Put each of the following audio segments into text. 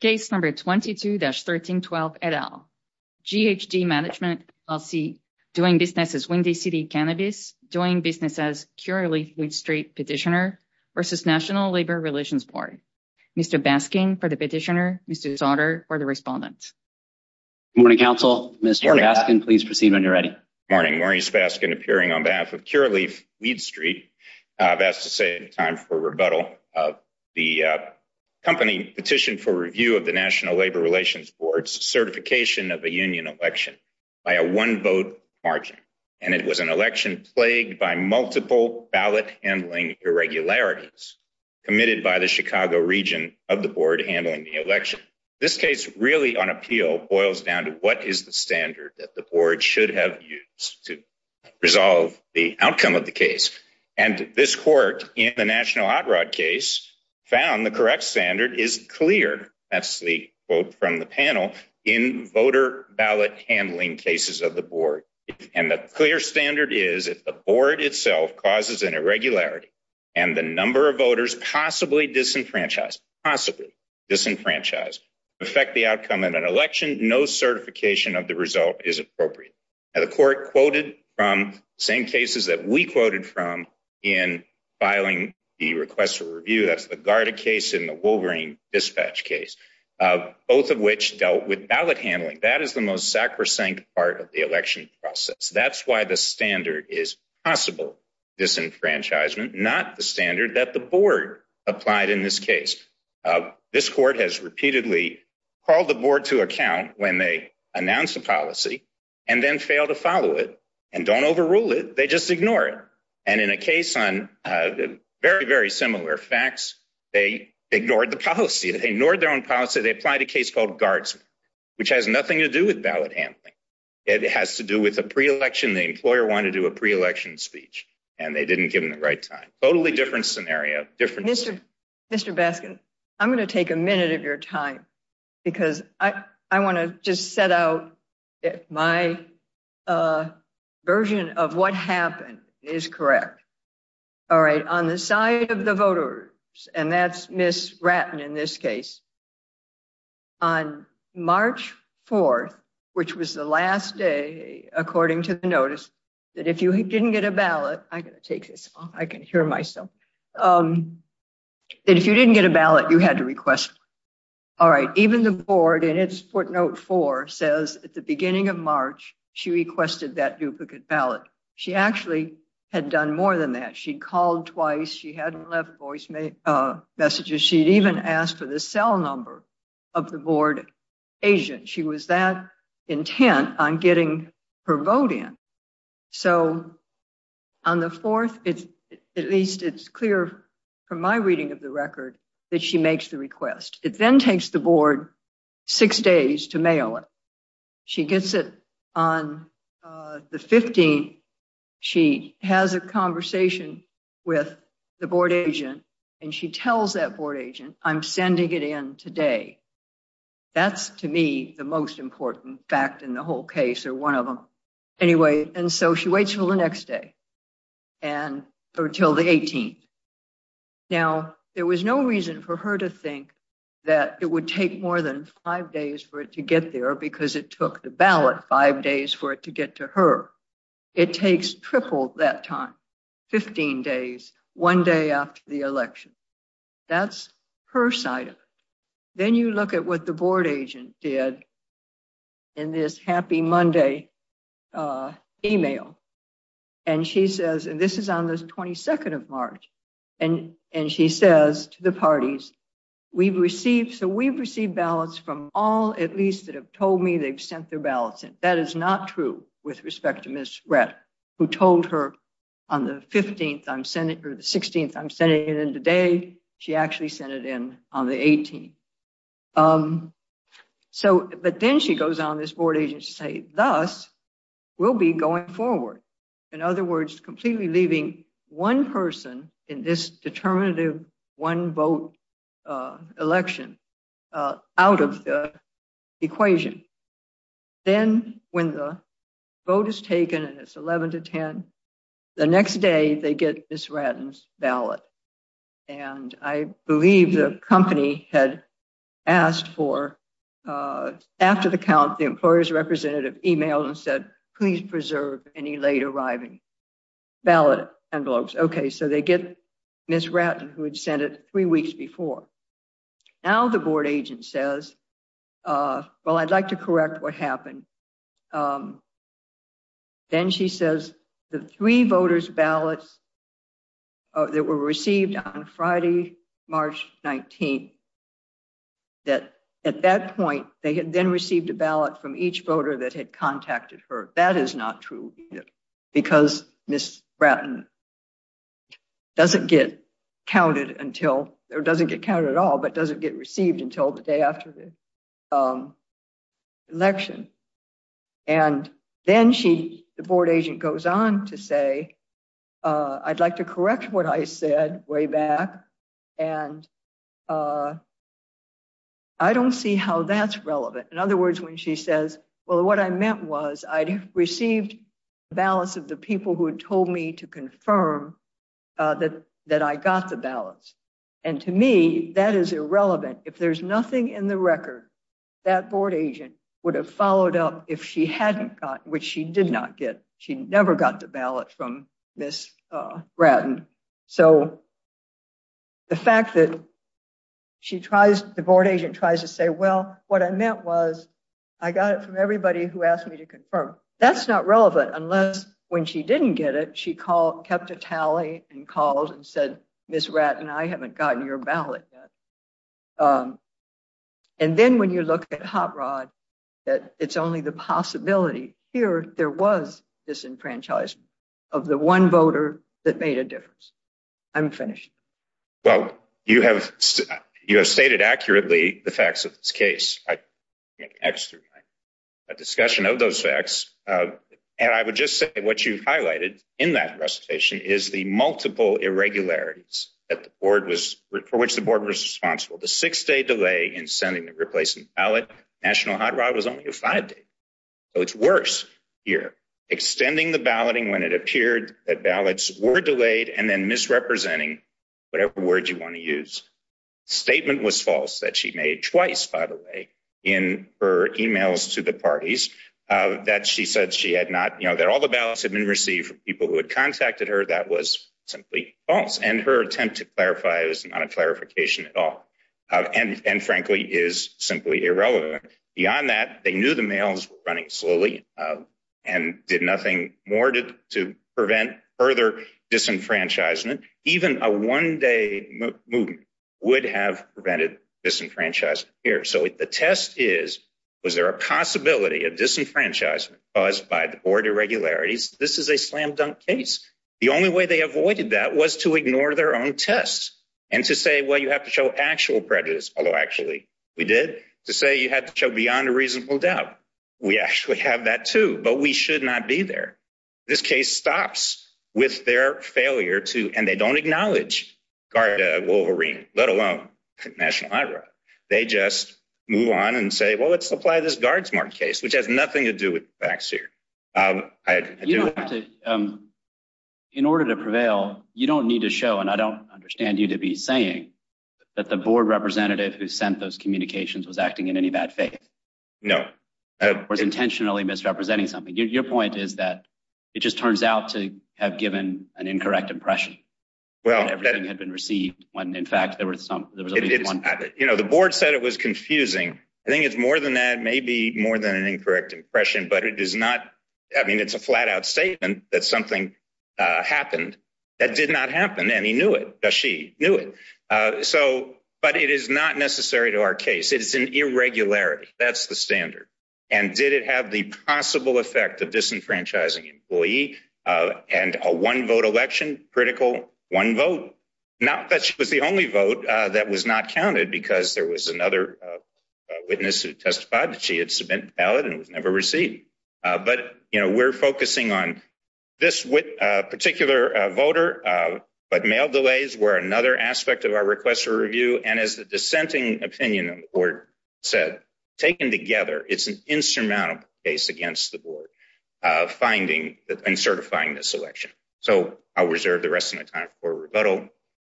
Case number 22-1312 et al. GHG Management LLC doing business as Windy City Cannabis, doing business as Curaleaf-Weed Street Petitioner versus National Labor Relations Board. Mr. Baskin for the petitioner, Mr. Sautter for the respondent. Good morning, counsel. Mr. Baskin, please proceed when you're ready. Morning. Maurice Baskin appearing on behalf of Curaleaf-Weed Street. I've asked to save time for rebuttal of the company petition for review of the National Labor Relations Board's certification of a union election by a one-vote margin. And it was an election plagued by multiple ballot handling irregularities committed by the Chicago region of the board handling the election. This case really on appeal boils down to what is the standard that the board should have used to in the national hot rod case found the correct standard is clear. That's the quote from the panel in voter ballot handling cases of the board. And the clear standard is if the board itself causes an irregularity and the number of voters possibly disenfranchised, possibly disenfranchised affect the outcome of an election, no certification of the result is appropriate. The court quoted from same cases that we quoted from in filing the request for review, that's the Garda case in the Wolverine dispatch case, both of which dealt with ballot handling. That is the most sacrosanct part of the election process. That's why the standard is possible disenfranchisement, not the standard that the board applied in this case. This court has failed to follow it and don't overrule it. They just ignore it. And in a case on a very, very similar facts, they ignored the policy. They ignored their own policy. They applied a case called guards, which has nothing to do with ballot handling. It has to do with a pre-election. The employer wanted to do a pre-election speech and they didn't give him the right time. Totally different scenario. Mr. Baskin, I'm going to take a minute of your time because I want to just set out my version of what happened is correct. All right. On the side of the voters, and that's Ms. Ratton in this case, on March 4th, which was the last day, according to the notice, that if you didn't get a ballot, I'm going to take this off, I can hear myself. That if you didn't get a ballot, you had to request. All right. Even the board in its footnote four says at the beginning of March, she requested that duplicate ballot. She actually had done more than that. She'd called twice. She hadn't left voice messages. She'd even asked for the cell number of the board agent. She was that intent on getting her vote in. So on the fourth, at least it's clear from my reading of the record that she makes the request. It then takes the board six days to mail it. She gets it on the 15th. She has a conversation with the board agent, and she tells that board agent, I'm sending it in today. That's to me the most important fact in the whole case, or one of them. Anyway, and so she waits until the next day, or until the 18th. Now, there was no reason for her to think that it would take more than five days for it to get there because it took the ballot five days for it to get to her. It takes triple that time, 15 days, one day after the election. That's her side of it. Then you look at what the board agent did in this Happy Monday email, and she says, and this is on the 22nd of March, and she says to the parties, we've received ballots from all at least that have told me they've sent their ballots in. That is not true with respect to Ms. Rett, who told her on the 15th, or the 16th, I'm sending it in today. She actually sent it in on the 18th. But then she goes on this board agent to say, thus, we'll be going forward. In other words, completely leaving one person in this determinative one vote election out of the equation. Then when the vote is taken, and it's 11 to 10, the next day they get Ms. Ratton's ballot. And I believe the company had asked for, after the count, the employer's representative emailed and said, please preserve any late arriving ballot envelopes. Okay, so they get Ms. Ratton, who had sent it three weeks before. Now the board agent says, well, I'd like to correct what happened. Then she says, the three voters' ballots that were received on Friday, March 19th, that at that point, they had then received a ballot from each voter that had contacted her. That is not true either, because Ms. Ratton doesn't get counted until, or doesn't get counted at all, but doesn't get received until the day after the election. And then the board agent goes on to say, I'd like to correct what I said way back. And I don't see how that's relevant. In other words, when she says, well, what I meant was I'd received ballots of the people who had me to confirm that I got the ballots. And to me, that is irrelevant. If there's nothing in the record, that board agent would have followed up if she hadn't gotten, which she did not get. She never got the ballot from Ms. Ratton. So the fact that she tries, the board agent tries to say, well, what I meant was I got it from everybody who asked me to confirm. That's not relevant unless when she didn't get it, she kept a tally and called and said, Ms. Ratton, I haven't gotten your ballot yet. And then when you look at HopRod, that it's only the possibility. Here, there was disenfranchisement of the one voter that made a difference. I'm finished. Well, you have, you have stated accurately the facts of this case. I can't exterminate a discussion of those facts. And I would just say what you've highlighted in that recitation is the multiple irregularities that the board was, for which the board was responsible. The six-day delay in sending the replacement ballot, National Hot Rod was only a five-day. So it's worse here. Extending the balloting when it appeared that ballots were delayed and then misrepresenting whatever word you want to use. Statement was false that she made twice, by the way, in her emails to the parties, that she said she had not, you know, that all the ballots had been received from people who had contacted her. That was simply false. And her attempt to clarify is not a clarification at all. And, and frankly is simply irrelevant. Beyond that, they knew the mails were running slowly and did nothing more to prevent further disenfranchisement. Even a one-day movement would have prevented disenfranchisement here. So the test is, was there a possibility of disenfranchisement caused by the board irregularities? This is a slam dunk case. The only way they avoided that was to ignore their own tests and to say, well, you have to show actual prejudice. Although actually we did to say you had to show beyond a reasonable doubt. We actually have that too, but we should not be there. This case stops with their failure to, and they don't acknowledge guard, a Wolverine, let alone national IRA. They just move on and say, well, let's apply this guard smart case, which has nothing to do with facts here. Um, in order to prevail, you don't need to show, and I don't understand you to be saying that the board representative who sent those communications was acting in any bad faith. No, I was intentionally misrepresenting something. Your point is that it just turns out to have given an incorrect impression. Well, everything had been received when, in fact, there were some, you know, the board said it was confusing. I think it's more than that. Maybe more than an incorrect impression, but it is not. I mean, it's a flat out statement that something happened that did not happen, and he knew it. Does she knew it? Uh, so, but it is not necessary to our case. It's an irregularity. That's the standard. And did it have the possible effect of disenfranchising employee? Uh, and a one vote election critical one vote. Not that she was the only vote that was not counted because there was another witness who testified that she had cement ballot and was never received. But, you know, we're focusing on this with particular voter. But mail delays were another aspect of our request for case against the board finding and certifying this election. So I'll reserve the rest of my time for rebuttal.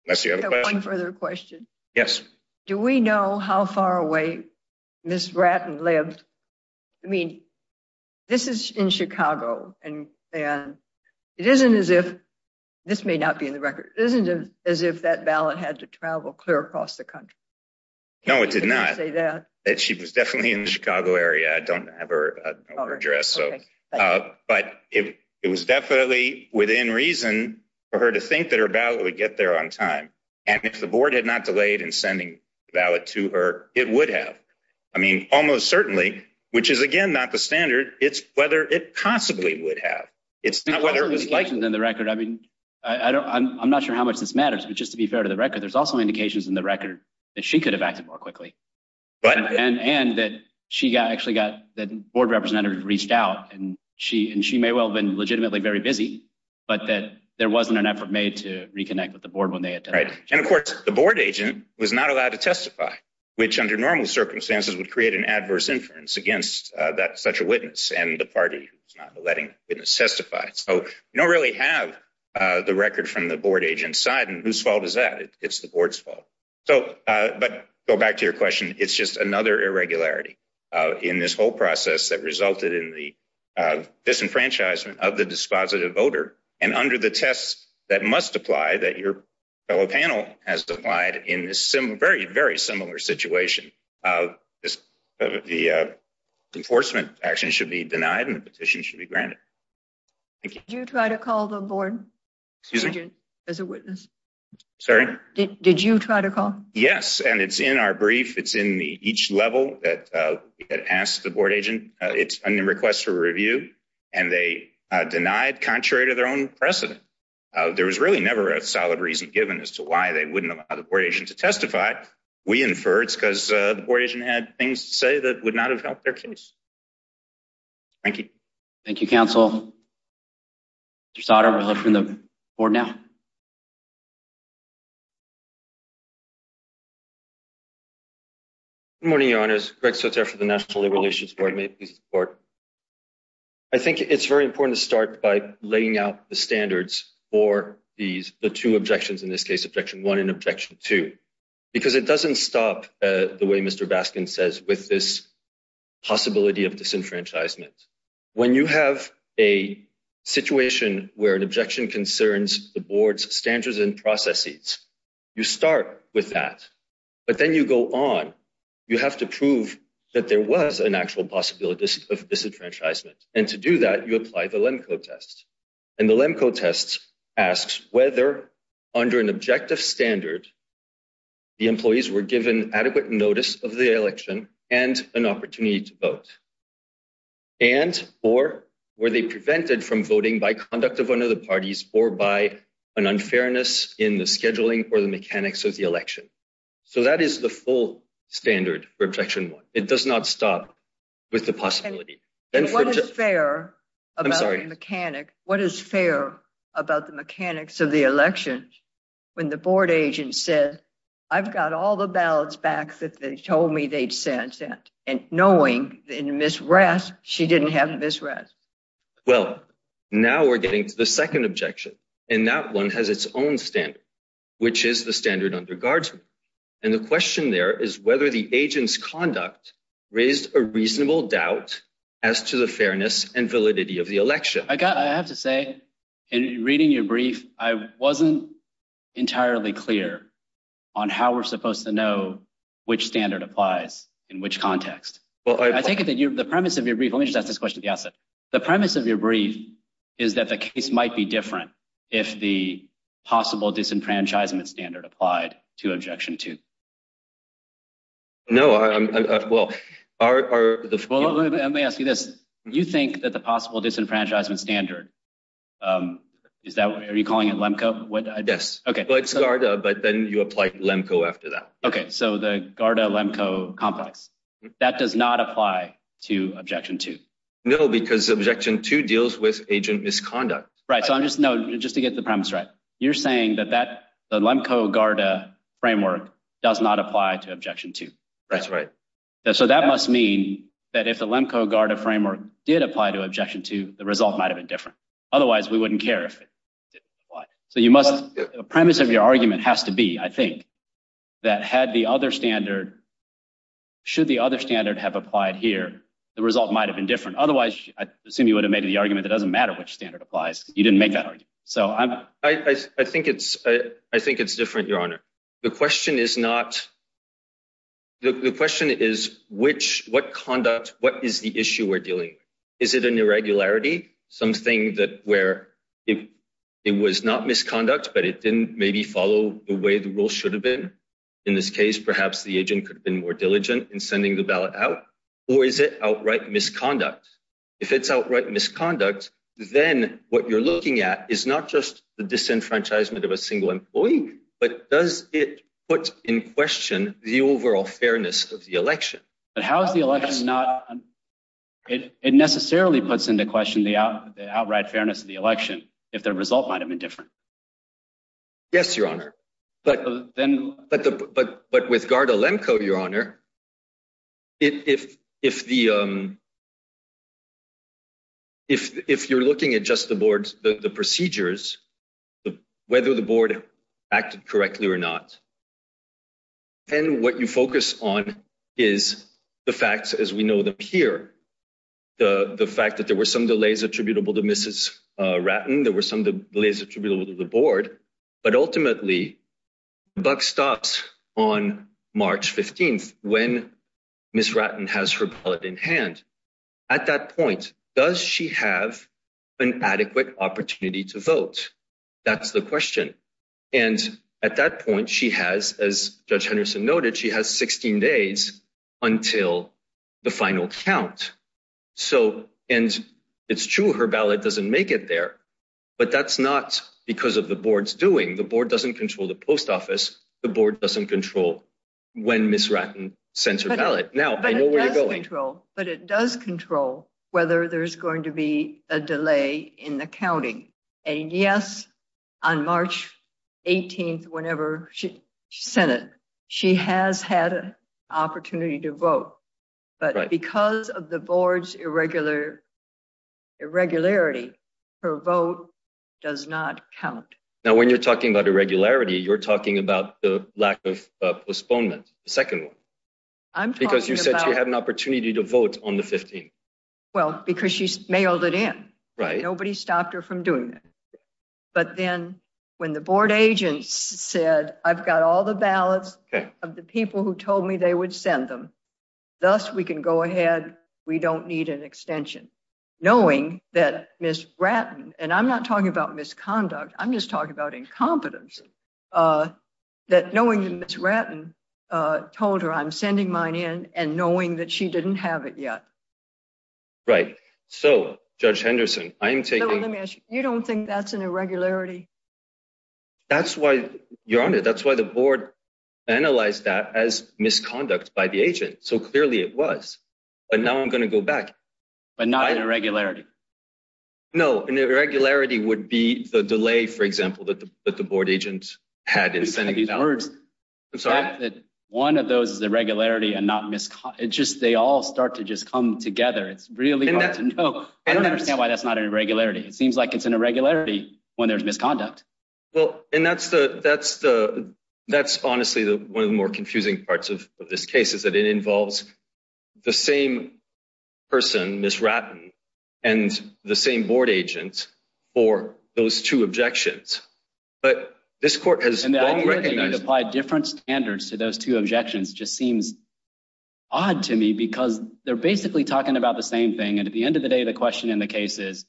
Unless you have one further question. Yes. Do we know how far away Miss Bratton lived? I mean, this is in Chicago, and it isn't as if this may not be in the record. Isn't it as if that ballot had to travel clear across the country? No, it did not say that she was definitely in the Chicago area. I don't have her address, but it was definitely within reason for her to think that her ballot would get there on time. And if the board had not delayed in sending ballot to her, it would have. I mean, almost certainly, which is again, not the standard. It's whether it possibly would have. It's not whether it was like in the record. I mean, I'm not sure how much this matters, but just to be fair to the record, there's also indications in the record that she could have acted more quickly. And that she actually got that board representative reached out, and she may well have been legitimately very busy, but that there wasn't an effort made to reconnect with the board when they attended. And of course, the board agent was not allowed to testify, which under normal circumstances would create an adverse inference against such a witness and the party who's not letting the witness testify. So you don't really have the record from the board agent's side. And whose fault? So, but go back to your question. It's just another irregularity in this whole process that resulted in the disenfranchisement of the dispositive voter. And under the tests that must apply that your fellow panel has applied in this very, very similar situation, the enforcement action should be denied and the petition should be granted. Did you try to call the board? Excuse me? As a witness? Sorry? Did you try to call? Yes, and it's in our brief. It's in each level that we had asked the board agent. It's a request for review, and they denied contrary to their own precedent. There was really never a solid reason given as to why they wouldn't allow the board agent to testify. We infer it's because the board agent had things to say that would not have helped their case. Thank you. Thank you, counsel. Mr. Sauter, we'll open the board now. Good morning, your honors. Greg Sauter for the National Labor Relations Board. May it please the court. I think it's very important to start by laying out the standards for these, the two objections, in this case, objection one and objection two, because it doesn't stop the way Mr. Baskin says with this possibility of disenfranchisement. When you have a situation where an objection concerns the board's standards and processes, you start with that, but then you go on. You have to prove that there was an actual possibility of disenfranchisement, and to do that, you apply the Lemko test. And the Lemko test asks whether, under an objective standard, the employees were given adequate notice of the election and an opportunity to vote, and or were they prevented from voting by conduct of one of the parties or by an unfairness in the scheduling or the mechanics of the election. So that is the full standard for objection one. It does not stop with the possibility. And what is fair about the mechanics of the election when the board agent said, I've got all the ballots back that they told me they'd sent, and knowing in Ms. Rask, she didn't have Ms. Rask? Well, now we're getting to the second objection, and that one has its own standard, which is the standard under guardsmen. And the question there is whether the agent's conduct raised a reasonable doubt as to the fairness and validity of the election. I have to say, in reading your brief, I wasn't entirely clear on how we're supposed to know which standard applies in which context. I take it that the premise of your brief—let me just ask this question at the outset—the premise of your brief is that the case might be different if the possible disenfranchisement standard applied to objection two. No, I'm—well, are the— Well, let me ask you this. You think that the possible disenfranchisement standard—is that—are you calling it LEMCO? Yes. Okay. Well, it's GARDA, but then you apply LEMCO after that. Okay. So the GARDA-LEMCO complex, that does not apply to objection two. No, because objection two deals with agent misconduct. Right. So I'm just—no, just to get the premise right, you're saying that the LEMCO-GARDA framework does not apply to objection two. That's right. So that must mean that if the LEMCO-GARDA framework did apply to objection two, the result might have been different. Otherwise, we wouldn't care if it didn't apply. So you must—the premise of your argument has to be, I think, that had the other standard—should the other standard have applied here, the result might have been different. Otherwise, I assume you would have made the argument that it doesn't matter which standard applies. You didn't make that argument. So I'm— I think it's—I think it's different, Your Honor. The question is not—the question is which—what conduct—what is the issue we're dealing with? Is it an irregularity, something that where it was not misconduct, but it didn't maybe follow the way the rules should have been? In this case, perhaps the agent could have been more diligent in sending the ballot out, or is it outright misconduct? If it's outright misconduct, then what you're looking at is not the disenfranchisement of a single employee, but does it put in question the overall fairness of the election? But how is the election not—it necessarily puts into question the outright fairness of the election, if the result might have been different. Yes, Your Honor. But then— whether the board acted correctly or not. And what you focus on is the facts as we know them here. The fact that there were some delays attributable to Mrs. Ratten, there were some delays attributable to the board, but ultimately, the buck stops on March 15th when Ms. Ratten has her ballot in hand. At that point, does she have an adequate opportunity to vote? That's the question. And at that point, she has, as Judge Henderson noted, she has 16 days until the final count. So—and it's true her ballot doesn't make it there, but that's not because of the board's doing. The board doesn't control the post office. The board doesn't control when Ms. Ratten sends her ballot. Now, I know where you're going. But it does control whether there's going to be a delay in the counting. And yes, on March 18th, whenever she sent it, she has had an opportunity to vote. But because of the board's irregular—irregularity, her vote does not count. Now when you're talking about irregularity, you're talking about the lack of postponement. The second one. Because you said she had an opportunity to vote on the 15th. Well, because she mailed it in. Nobody stopped her from doing that. But then, when the board agents said, I've got all the ballots of the people who told me they would send them, thus we can go ahead. We don't need an extension. Knowing that Ms. Ratten, and I'm not talking about misconduct, I'm just talking about incompetence, uh, that knowing that Ms. Ratten told her I'm sending mine in and knowing that she didn't have it yet. Right. So, Judge Henderson, I'm taking— Let me ask you, you don't think that's an irregularity? That's why, Your Honor, that's why the board analyzed that as misconduct by the agent. So clearly it was. But now I'm going to go back. But not an irregularity? No, an irregularity would be the delay, for example, that the board agent had in sending these ballots. These words. I'm sorry? That one of those is irregularity and not misconduct. It's just, they all start to just come together. It's really hard to know. I don't understand why that's not an irregularity. It seems like it's an irregularity when there's misconduct. Well, and that's the, that's the, that's honestly the one of the more confusing parts of this case is that it involves the same person, Ms. Ratten, and the same board agent for those two objections. But this court has long recognized— And the idea that you'd apply different standards to those two objections just seems odd to me because they're basically talking about the same thing. And at the end of the day, the question in the case is,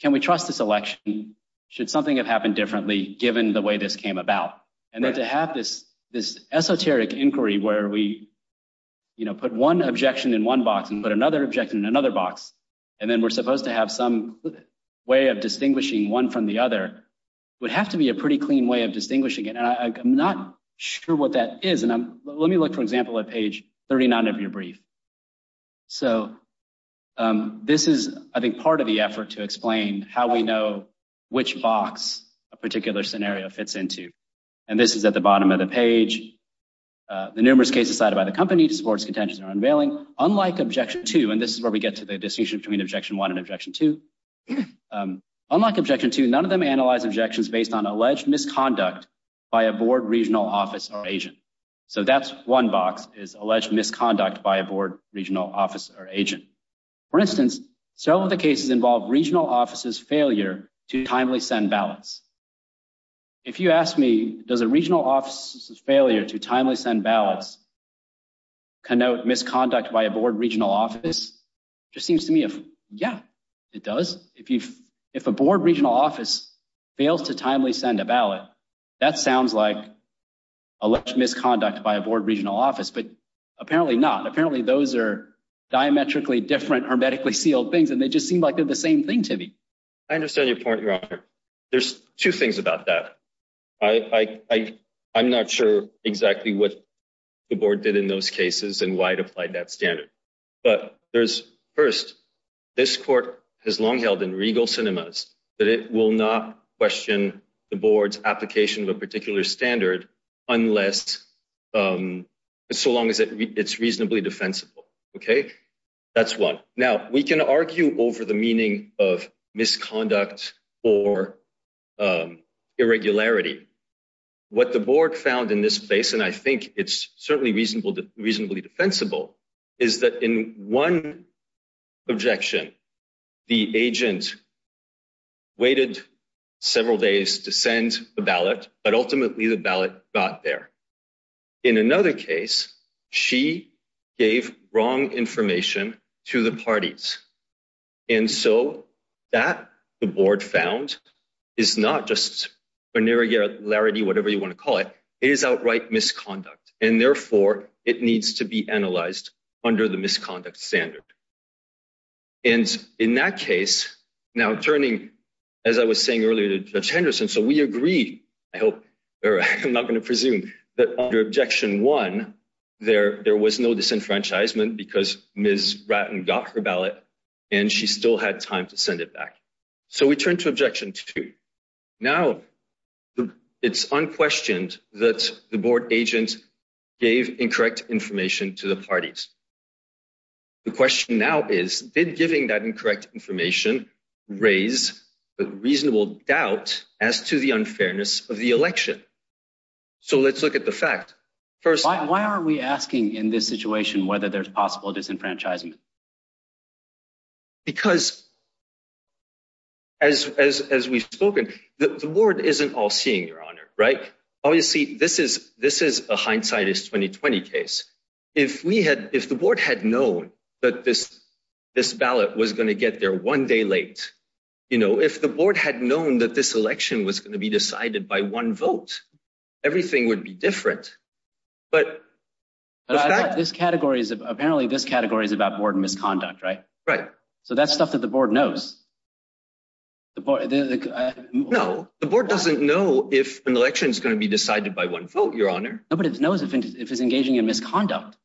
can we trust this election? Should something have happened differently given the way this came about? And then to have this, this esoteric inquiry where we, you know, put one objection in one box and put another objection in another box, and then we're supposed to have some way of distinguishing one from the other would have to be a pretty clean way of distinguishing it. And I'm not sure what that is. And let me look, for example, at page 39 of your brief. So this is, I think, part of the effort to explain how we know which box a particular scenario fits into. And this is at the bottom of the page. The numerous cases cited by the company to support its contentions are unveiling. Unlike Objection 2— And this is where we get to the distinction between Objection 1 and Objection 2. Unlike Objection 2, none of them analyze objections based on alleged misconduct by a board, regional office, or agent. So that's one box is alleged misconduct by a board, regional office, or agent. For instance, some of the cases involve regional offices' failure to timely send ballots. If you ask me, does a regional office's failure to timely send ballots connote misconduct by a board, regional office? Just seems to me, yeah, it does. If a board, regional office fails to timely send a ballot, that sounds like alleged misconduct by a board, regional office, but apparently not. Apparently those are diametrically different, hermetically sealed things, and they just seem like they're the same thing to me. I understand your point, Your Honor. There's two things about that. I'm not sure exactly what the board did in those cases and why it applied that standard. But first, this court has long held in regal cinemas that it will not question the board's application of a particular standard unless, so long as it's reasonably defensible. That's one. Now, we can argue over the meaning of misconduct or irregularity. What the board found in this space, and I think it's certainly reasonably defensible, is that in one objection, the agent waited several days to send the ballot, but ultimately the ballot got there. In another case, she gave wrong information to the parties. And so that, the board found, is not just an irregularity, whatever you want to call it, it is outright misconduct. And therefore, it needs to be analyzed under the misconduct standard. And in that case, now turning, as I was saying earlier to Judge Henderson, so we agree, I hope, or I'm not going to presume, that under objection one, there was no disenfranchisement because Ms. Ratton got her ballot and she still had time to send it back. So we turn to objection two. Now, it's unquestioned that the board agent gave incorrect information to the parties. The question now is, did giving that incorrect information raise a reasonable doubt as to the fairness of the election? So let's look at the fact. Why are we asking in this situation whether there's possible disenfranchisement? Because as we've spoken, the board isn't all seeing, Your Honor, right? Obviously, this is a hindsightist 2020 case. If the board had known that this ballot was going to get there one day late, you know, if the board had known that this ballot would be decided by one vote, everything would be different. But this category is, apparently, this category is about board misconduct, right? Right. So that's stuff that the board knows. No, the board doesn't know if an election is going to be decided by one vote, Your Honor. Nobody knows if it's engaging in misconduct.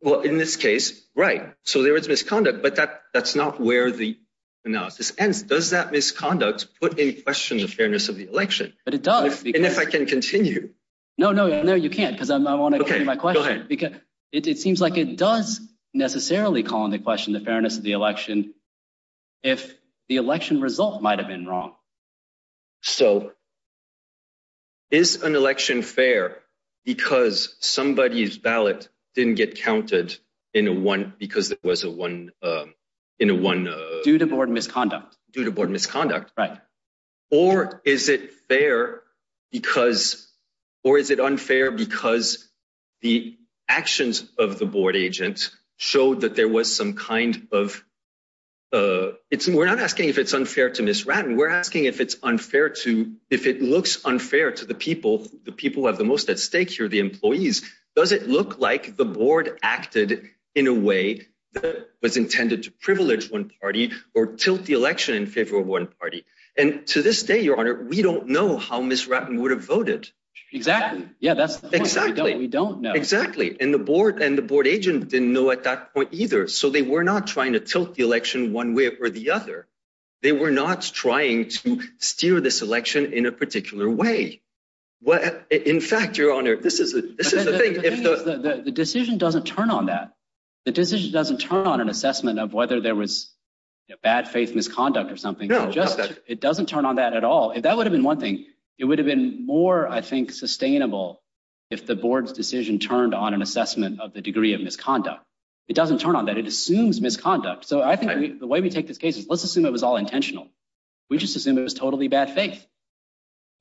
Well, in this case, right. So there is misconduct, but that's not where the analysis ends. Does that misconduct put in question the fairness of the election? But it does. And if I can continue. No, no, no, you can't because I want to continue my question. It seems like it does necessarily call into question the fairness of the election if the election result might have been wrong. So is an election fair because somebody's ballot didn't get counted in a one because it was a one in a one due to board misconduct due to board misconduct? Right. Or is it fair because or is it unfair because the actions of the board agents showed that there was some kind of it's we're not asking if it's unfair to Miss Ratten. We're asking if it's unfair to if it looks unfair to the people, the people who have the most at employees. Does it look like the board acted in a way that was intended to privilege one party or tilt the election in favor of one party? And to this day, Your Honor, we don't know how Miss Ratten would have voted. Exactly. Yeah, that's exactly what we don't know. Exactly. And the board and the board agent didn't know at that point either. So they were not trying to tilt the election one way or the other. They were not trying to steer this election in a particular way. Well, in fact, Your Honor, this is this is the thing. The decision doesn't turn on that. The decision doesn't turn on an assessment of whether there was a bad faith misconduct or something. Just it doesn't turn on that at all. That would have been one thing. It would have been more, I think, sustainable if the board's decision turned on an assessment of the degree of misconduct. It doesn't turn on that. It assumes misconduct. So I think the way we take this case, let's assume it was all intentional. We just assume it was totally bad faith.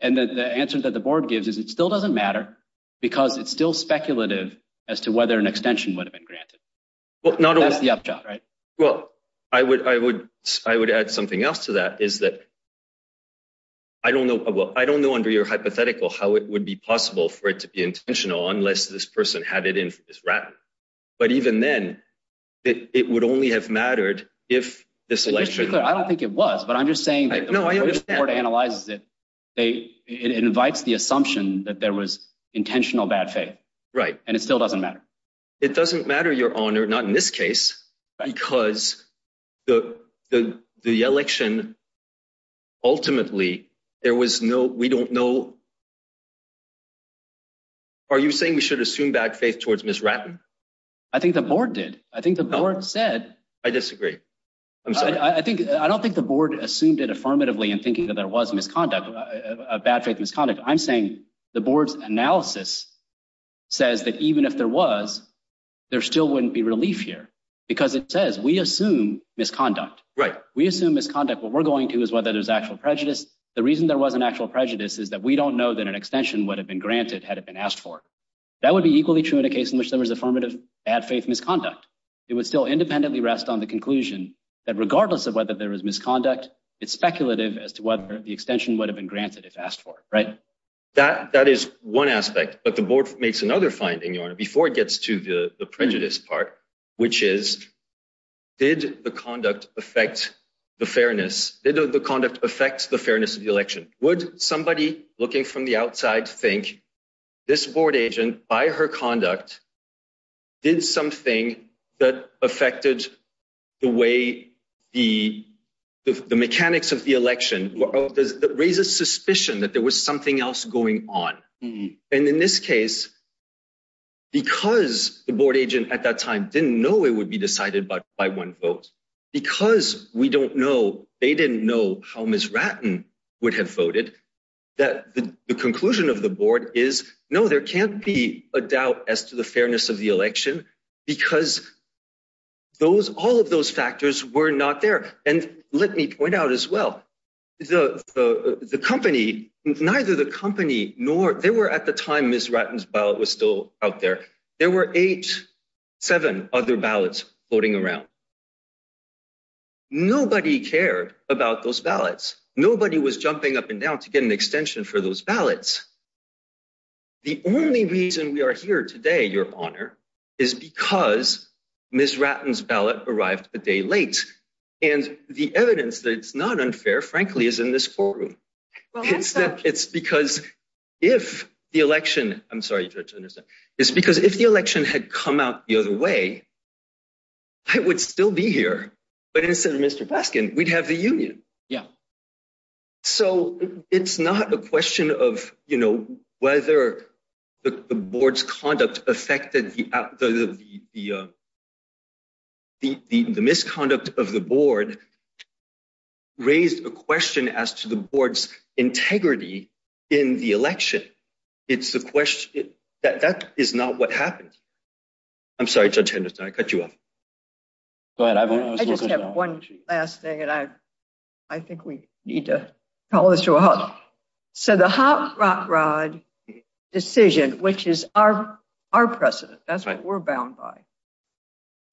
And the answer that the board gives is it still doesn't matter because it's still speculative as to whether an extension would have been granted. That's the upshot, right? Well, I would I would I would add something else to that is that. I don't know. I don't know under your hypothetical how it would be possible for it to be intentional unless this person had it in for Miss Ratten. But even then, it would only have mattered if this election. I don't think it was, but I'm just saying that the board analyzes it. It invites the assumption that there was intentional bad faith. Right. And it still doesn't matter. It doesn't matter, your honor. Not in this case, because the the the election. Ultimately, there was no we don't know. Are you saying we should assume bad faith towards Miss Ratten? I think the board did. I think the board said I disagree. I'm sorry. I think I don't think the board assumed it affirmatively in thinking that there was misconduct, bad faith misconduct. I'm saying the board's analysis says that even if there was, there still wouldn't be relief here because it says we assume misconduct, right? We assume misconduct. What we're going to is whether there's actual prejudice. The reason there was an actual prejudice is that we don't know that an extension would have been granted had it been asked for. That would be equally true in a case in which there was affirmative, bad faith misconduct. It would still independently rest on the conclusion that regardless of whether there was misconduct, it's speculative as to whether the extension would have been granted if asked for it. Right. That that is one aspect. But the board makes another finding, your honor, before it gets to the prejudice part, which is did the conduct affect the fairness? Did the conduct affect the fairness of the election? Would somebody looking from the outside think this board agent by her conduct did something that affected the way the mechanics of the election raises suspicion that there was something else going on. And in this case, because the board agent at that time didn't know it would be decided by one vote because we don't know, they didn't know how Ms. Ratten would have voted, that the conclusion of the board is, no, there can't be a doubt as to the fairness of the election because those all of those factors were not there. And let me point out as well, the the the company, neither the company nor they were at the time Ms. Ratten's ballot was still out there. There were eight, seven other voting around. Nobody cared about those ballots. Nobody was jumping up and down to get an extension for those ballots. The only reason we are here today, your honor, is because Ms. Ratten's ballot arrived a day late. And the evidence that it's not unfair, frankly, is in this forum. It's because if the election I'm sorry, it's because if the election had come out the other way, I would still be here. But instead of Mr. Baskin, we'd have the union. Yeah. So it's not a question of, you know, whether the board's conduct affected the the misconduct of the board raised a question as to the board's integrity in the election. It's the question that that is not what happened. I'm sorry, Judge Henderson, I cut you off. Go ahead. I just have one last thing and I I think we need to call this to a halt. So the Hop Rock Rod decision, which is our our precedent, that's what we're bound by,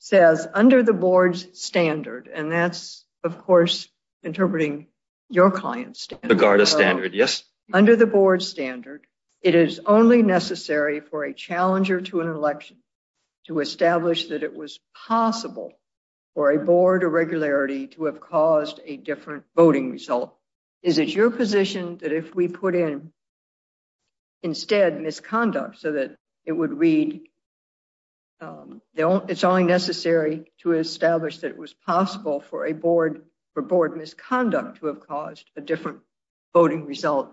says under the board's standard, and that's of course interpreting your client's standard. Under the board's standard, it is only necessary for a challenger to an election to establish that it was possible for a board irregularity to have caused a different voting result. Is it your position that if we put in instead misconduct so that it would read it's only necessary to establish that it was possible for a board for board misconduct to have caused a different voting result?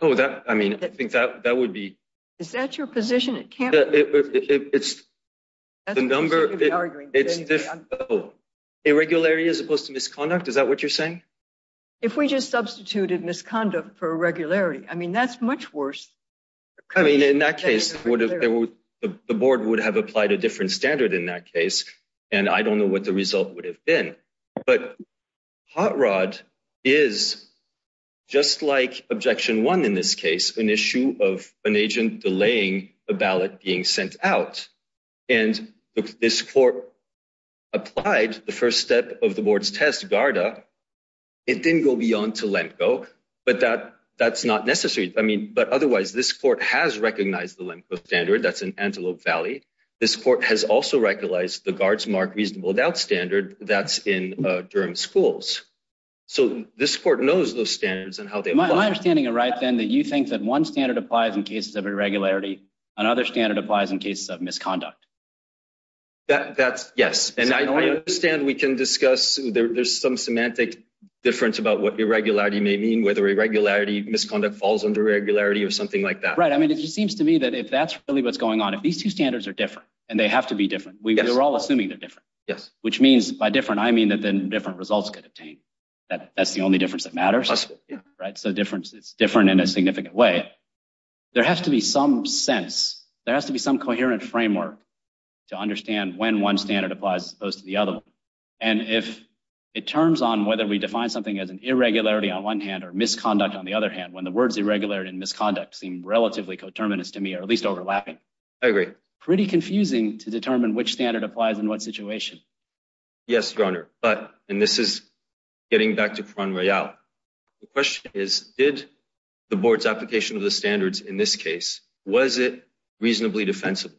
Oh, that, I mean, I think that that would be. Is that your position? It can't. It's the number. Irregularity as opposed to misconduct. Is that what you're saying? If we just substituted misconduct for irregularity, I mean, that's much worse. I mean, in that case, the board would have applied a different standard in that case, and I don't know what the result would have been. But Hot Rod is, just like Objection 1 in this case, an issue of an agent delaying a ballot being sent out. And this court applied the first step of the board's test, GARDA. It didn't go beyond to LEMCO, but that's not necessary. I mean, but otherwise, this court has recognized the LEMCO standard. That's in Antelope Valley. This court has also recognized the GARDA's Mark Reasonable Doubt standard. That's in Durham schools. So this court knows those standards and how they apply. Am I understanding it right, then, that you think that one standard applies in cases of irregularity, another standard applies in cases of misconduct? That's, yes. And I understand we can discuss, there's some semantic difference about what irregularity may mean, whether irregularity, misconduct falls under irregularity or something like that. Right. I mean, it just seems to me that if that's really what's going on, if these two are all different, we're all assuming they're different. Yes. Which means by different, I mean that then different results could obtain. That's the only difference that matters. Right. So difference is different in a significant way. There has to be some sense, there has to be some coherent framework to understand when one standard applies as opposed to the other. And if it turns on whether we define something as an irregularity on one hand or misconduct on the other hand, when the words irregularity and misconduct seem relatively coterminous to me, at least overlapping. I agree. Pretty confusing to determine which standard applies in what situation. Yes, Your Honor. But, and this is getting back to Cronroyal. The question is, did the board's application of the standards in this case, was it reasonably defensible?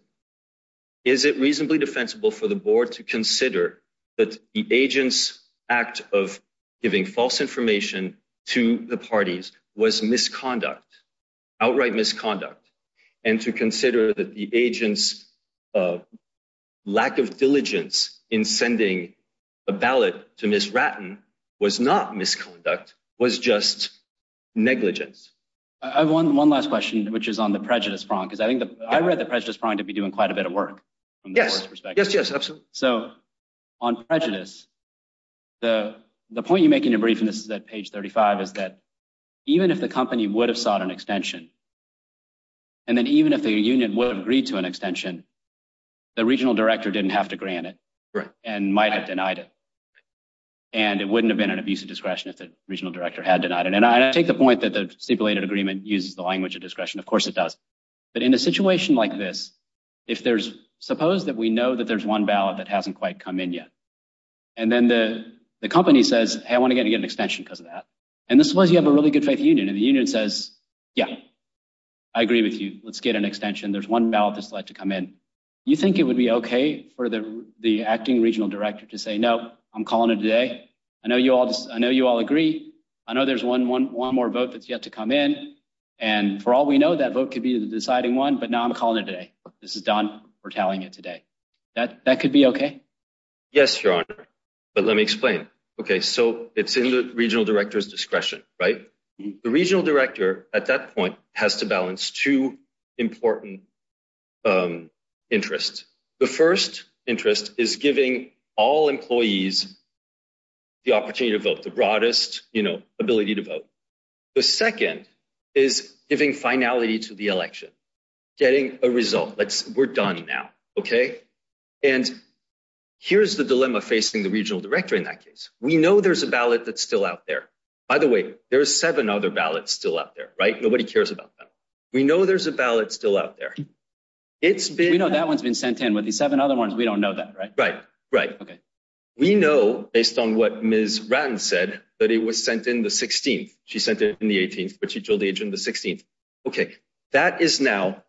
Is it reasonably defensible for the board to consider that the agent's act of giving false information to the parties was misconduct, outright misconduct, and to consider that the agent's lack of diligence in sending a ballot to Ms. Ratton was not misconduct, was just negligence? I have one last question, which is on the prejudice prong, because I read the prejudice prong to be doing quite a bit of work from the board's perspective. Yes, yes, absolutely. So on prejudice, the point you make in your brief, and this is at page 35, is that even if the company would have sought an extension, and then even if the union would have agreed to an extension, the regional director didn't have to grant it and might have denied it. And it wouldn't have been an abuse of discretion if the regional director had denied it. And I take the point that the stipulated agreement uses the language of discretion. Of course it does. But in a situation like this, if there's, suppose that we know that hasn't quite come in yet. And then the company says, hey, I want to get an extension because of that. And suppose you have a really good faith union and the union says, yeah, I agree with you. Let's get an extension. There's one ballot that's yet to come in. You think it would be okay for the acting regional director to say, no, I'm calling it today. I know you all agree. I know there's one more vote that's yet to come in. And for all we know, that vote could be the that that could be okay. Yes, your honor. But let me explain. Okay. So it's in the regional director's discretion, right? The regional director at that point has to balance two important interests. The first interest is giving all employees the opportunity to vote the broadest, you know, ability to vote. The second is giving finality to the election, getting a result. We're done now. Okay. And here's the dilemma facing the regional director. In that case, we know there's a ballot that's still out there. By the way, there are seven other ballots still out there, right? Nobody cares about them. We know there's a ballot still out there. It's been, you know, that one's been sent in with the seven other ones. We don't know that, right? Right, right. Okay. We know based on what Ms. Ran said that it was sent in the 16th. She sent it in the 16th. Okay. That is now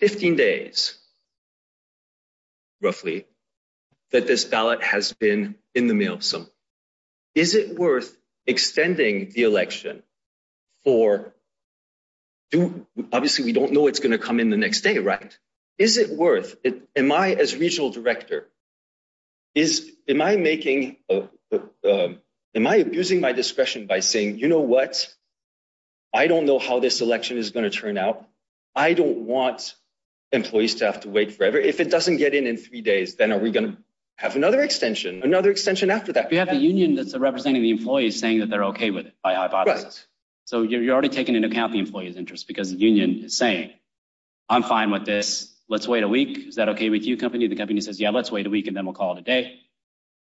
15 days, roughly, that this ballot has been in the mail. So is it worth extending the election for, obviously, we don't know it's going to come in the next day, right? Is it worth, am I as regional director, am I making, am I abusing my discretion by saying, you know what? I don't know how this election is going to turn out. I don't want employees to have to wait forever. If it doesn't get in in three days, then are we going to have another extension, another extension after that? You have the union that's representing the employees saying that they're okay with it by hypothesis. So you're already taking into account the employee's interest because the union is saying, I'm fine with this. Let's wait a week. Is that okay with you company? The company says, yeah, let's wait a week and then we'll call it a day.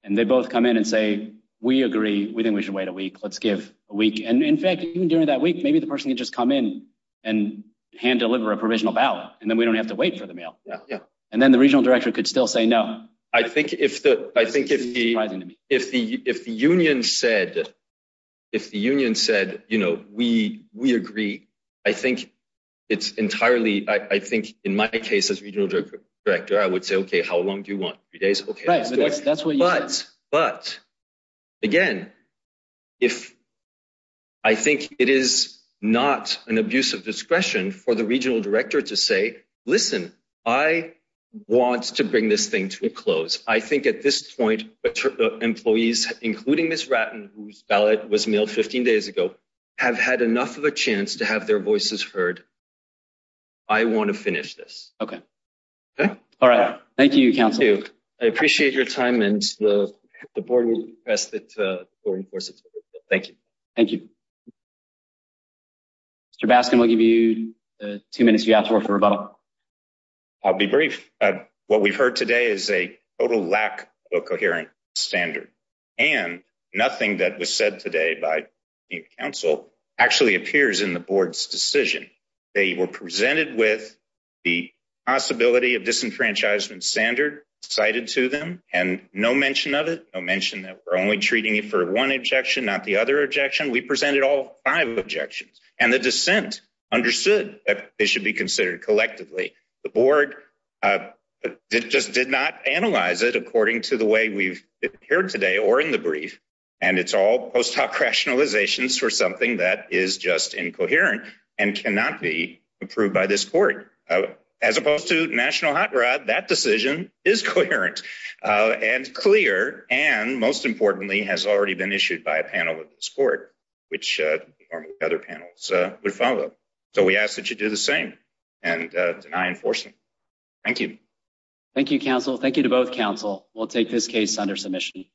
And they both come in and say, we agree. We think we should wait a week. Let's give a week. And in fact, even during that week, maybe the person could just come in and hand deliver a provisional ballot and then we don't have to wait for the mail. And then the regional director could still say no. I think if the union said, you know, we agree, I think it's entirely, I think in my case as regional director, I would say, okay, how long do you want? But again, if I think it is not an abuse of discretion for the regional director to say, listen, I want to bring this thing to a close. I think at this point, employees, including Ms. Ratten, whose ballot was mailed 15 days ago, have had enough of a chance to have their voices heard. I want to finish this. All right. Thank you, council. I appreciate your time and the board will request that thank you. Thank you. Mr. Baskin, we'll give you two minutes. You have to work for a vote. I'll be brief. What we've heard today is a total lack of a coherent standard and nothing that was said today by the council actually appears in the board's decision. They were presented with the possibility of disenfranchisement standard cited to them and no mention of it. No mention that we're only treating it for one objection, not the other objection. We presented all five objections and the dissent understood that they should be considered collectively. The board just did not analyze it according to the way we've heard today or in the brief and it's all post hoc rationalizations for something that is just incoherent and cannot be approved by this court. As opposed to national hot rod, that decision is coherent and clear and most importantly has already been issued by a panel of this court, which other panels would follow. So we ask that you do the same and deny enforcement. Thank you. Thank you, council. Thank you to both council. We'll take this case under submission.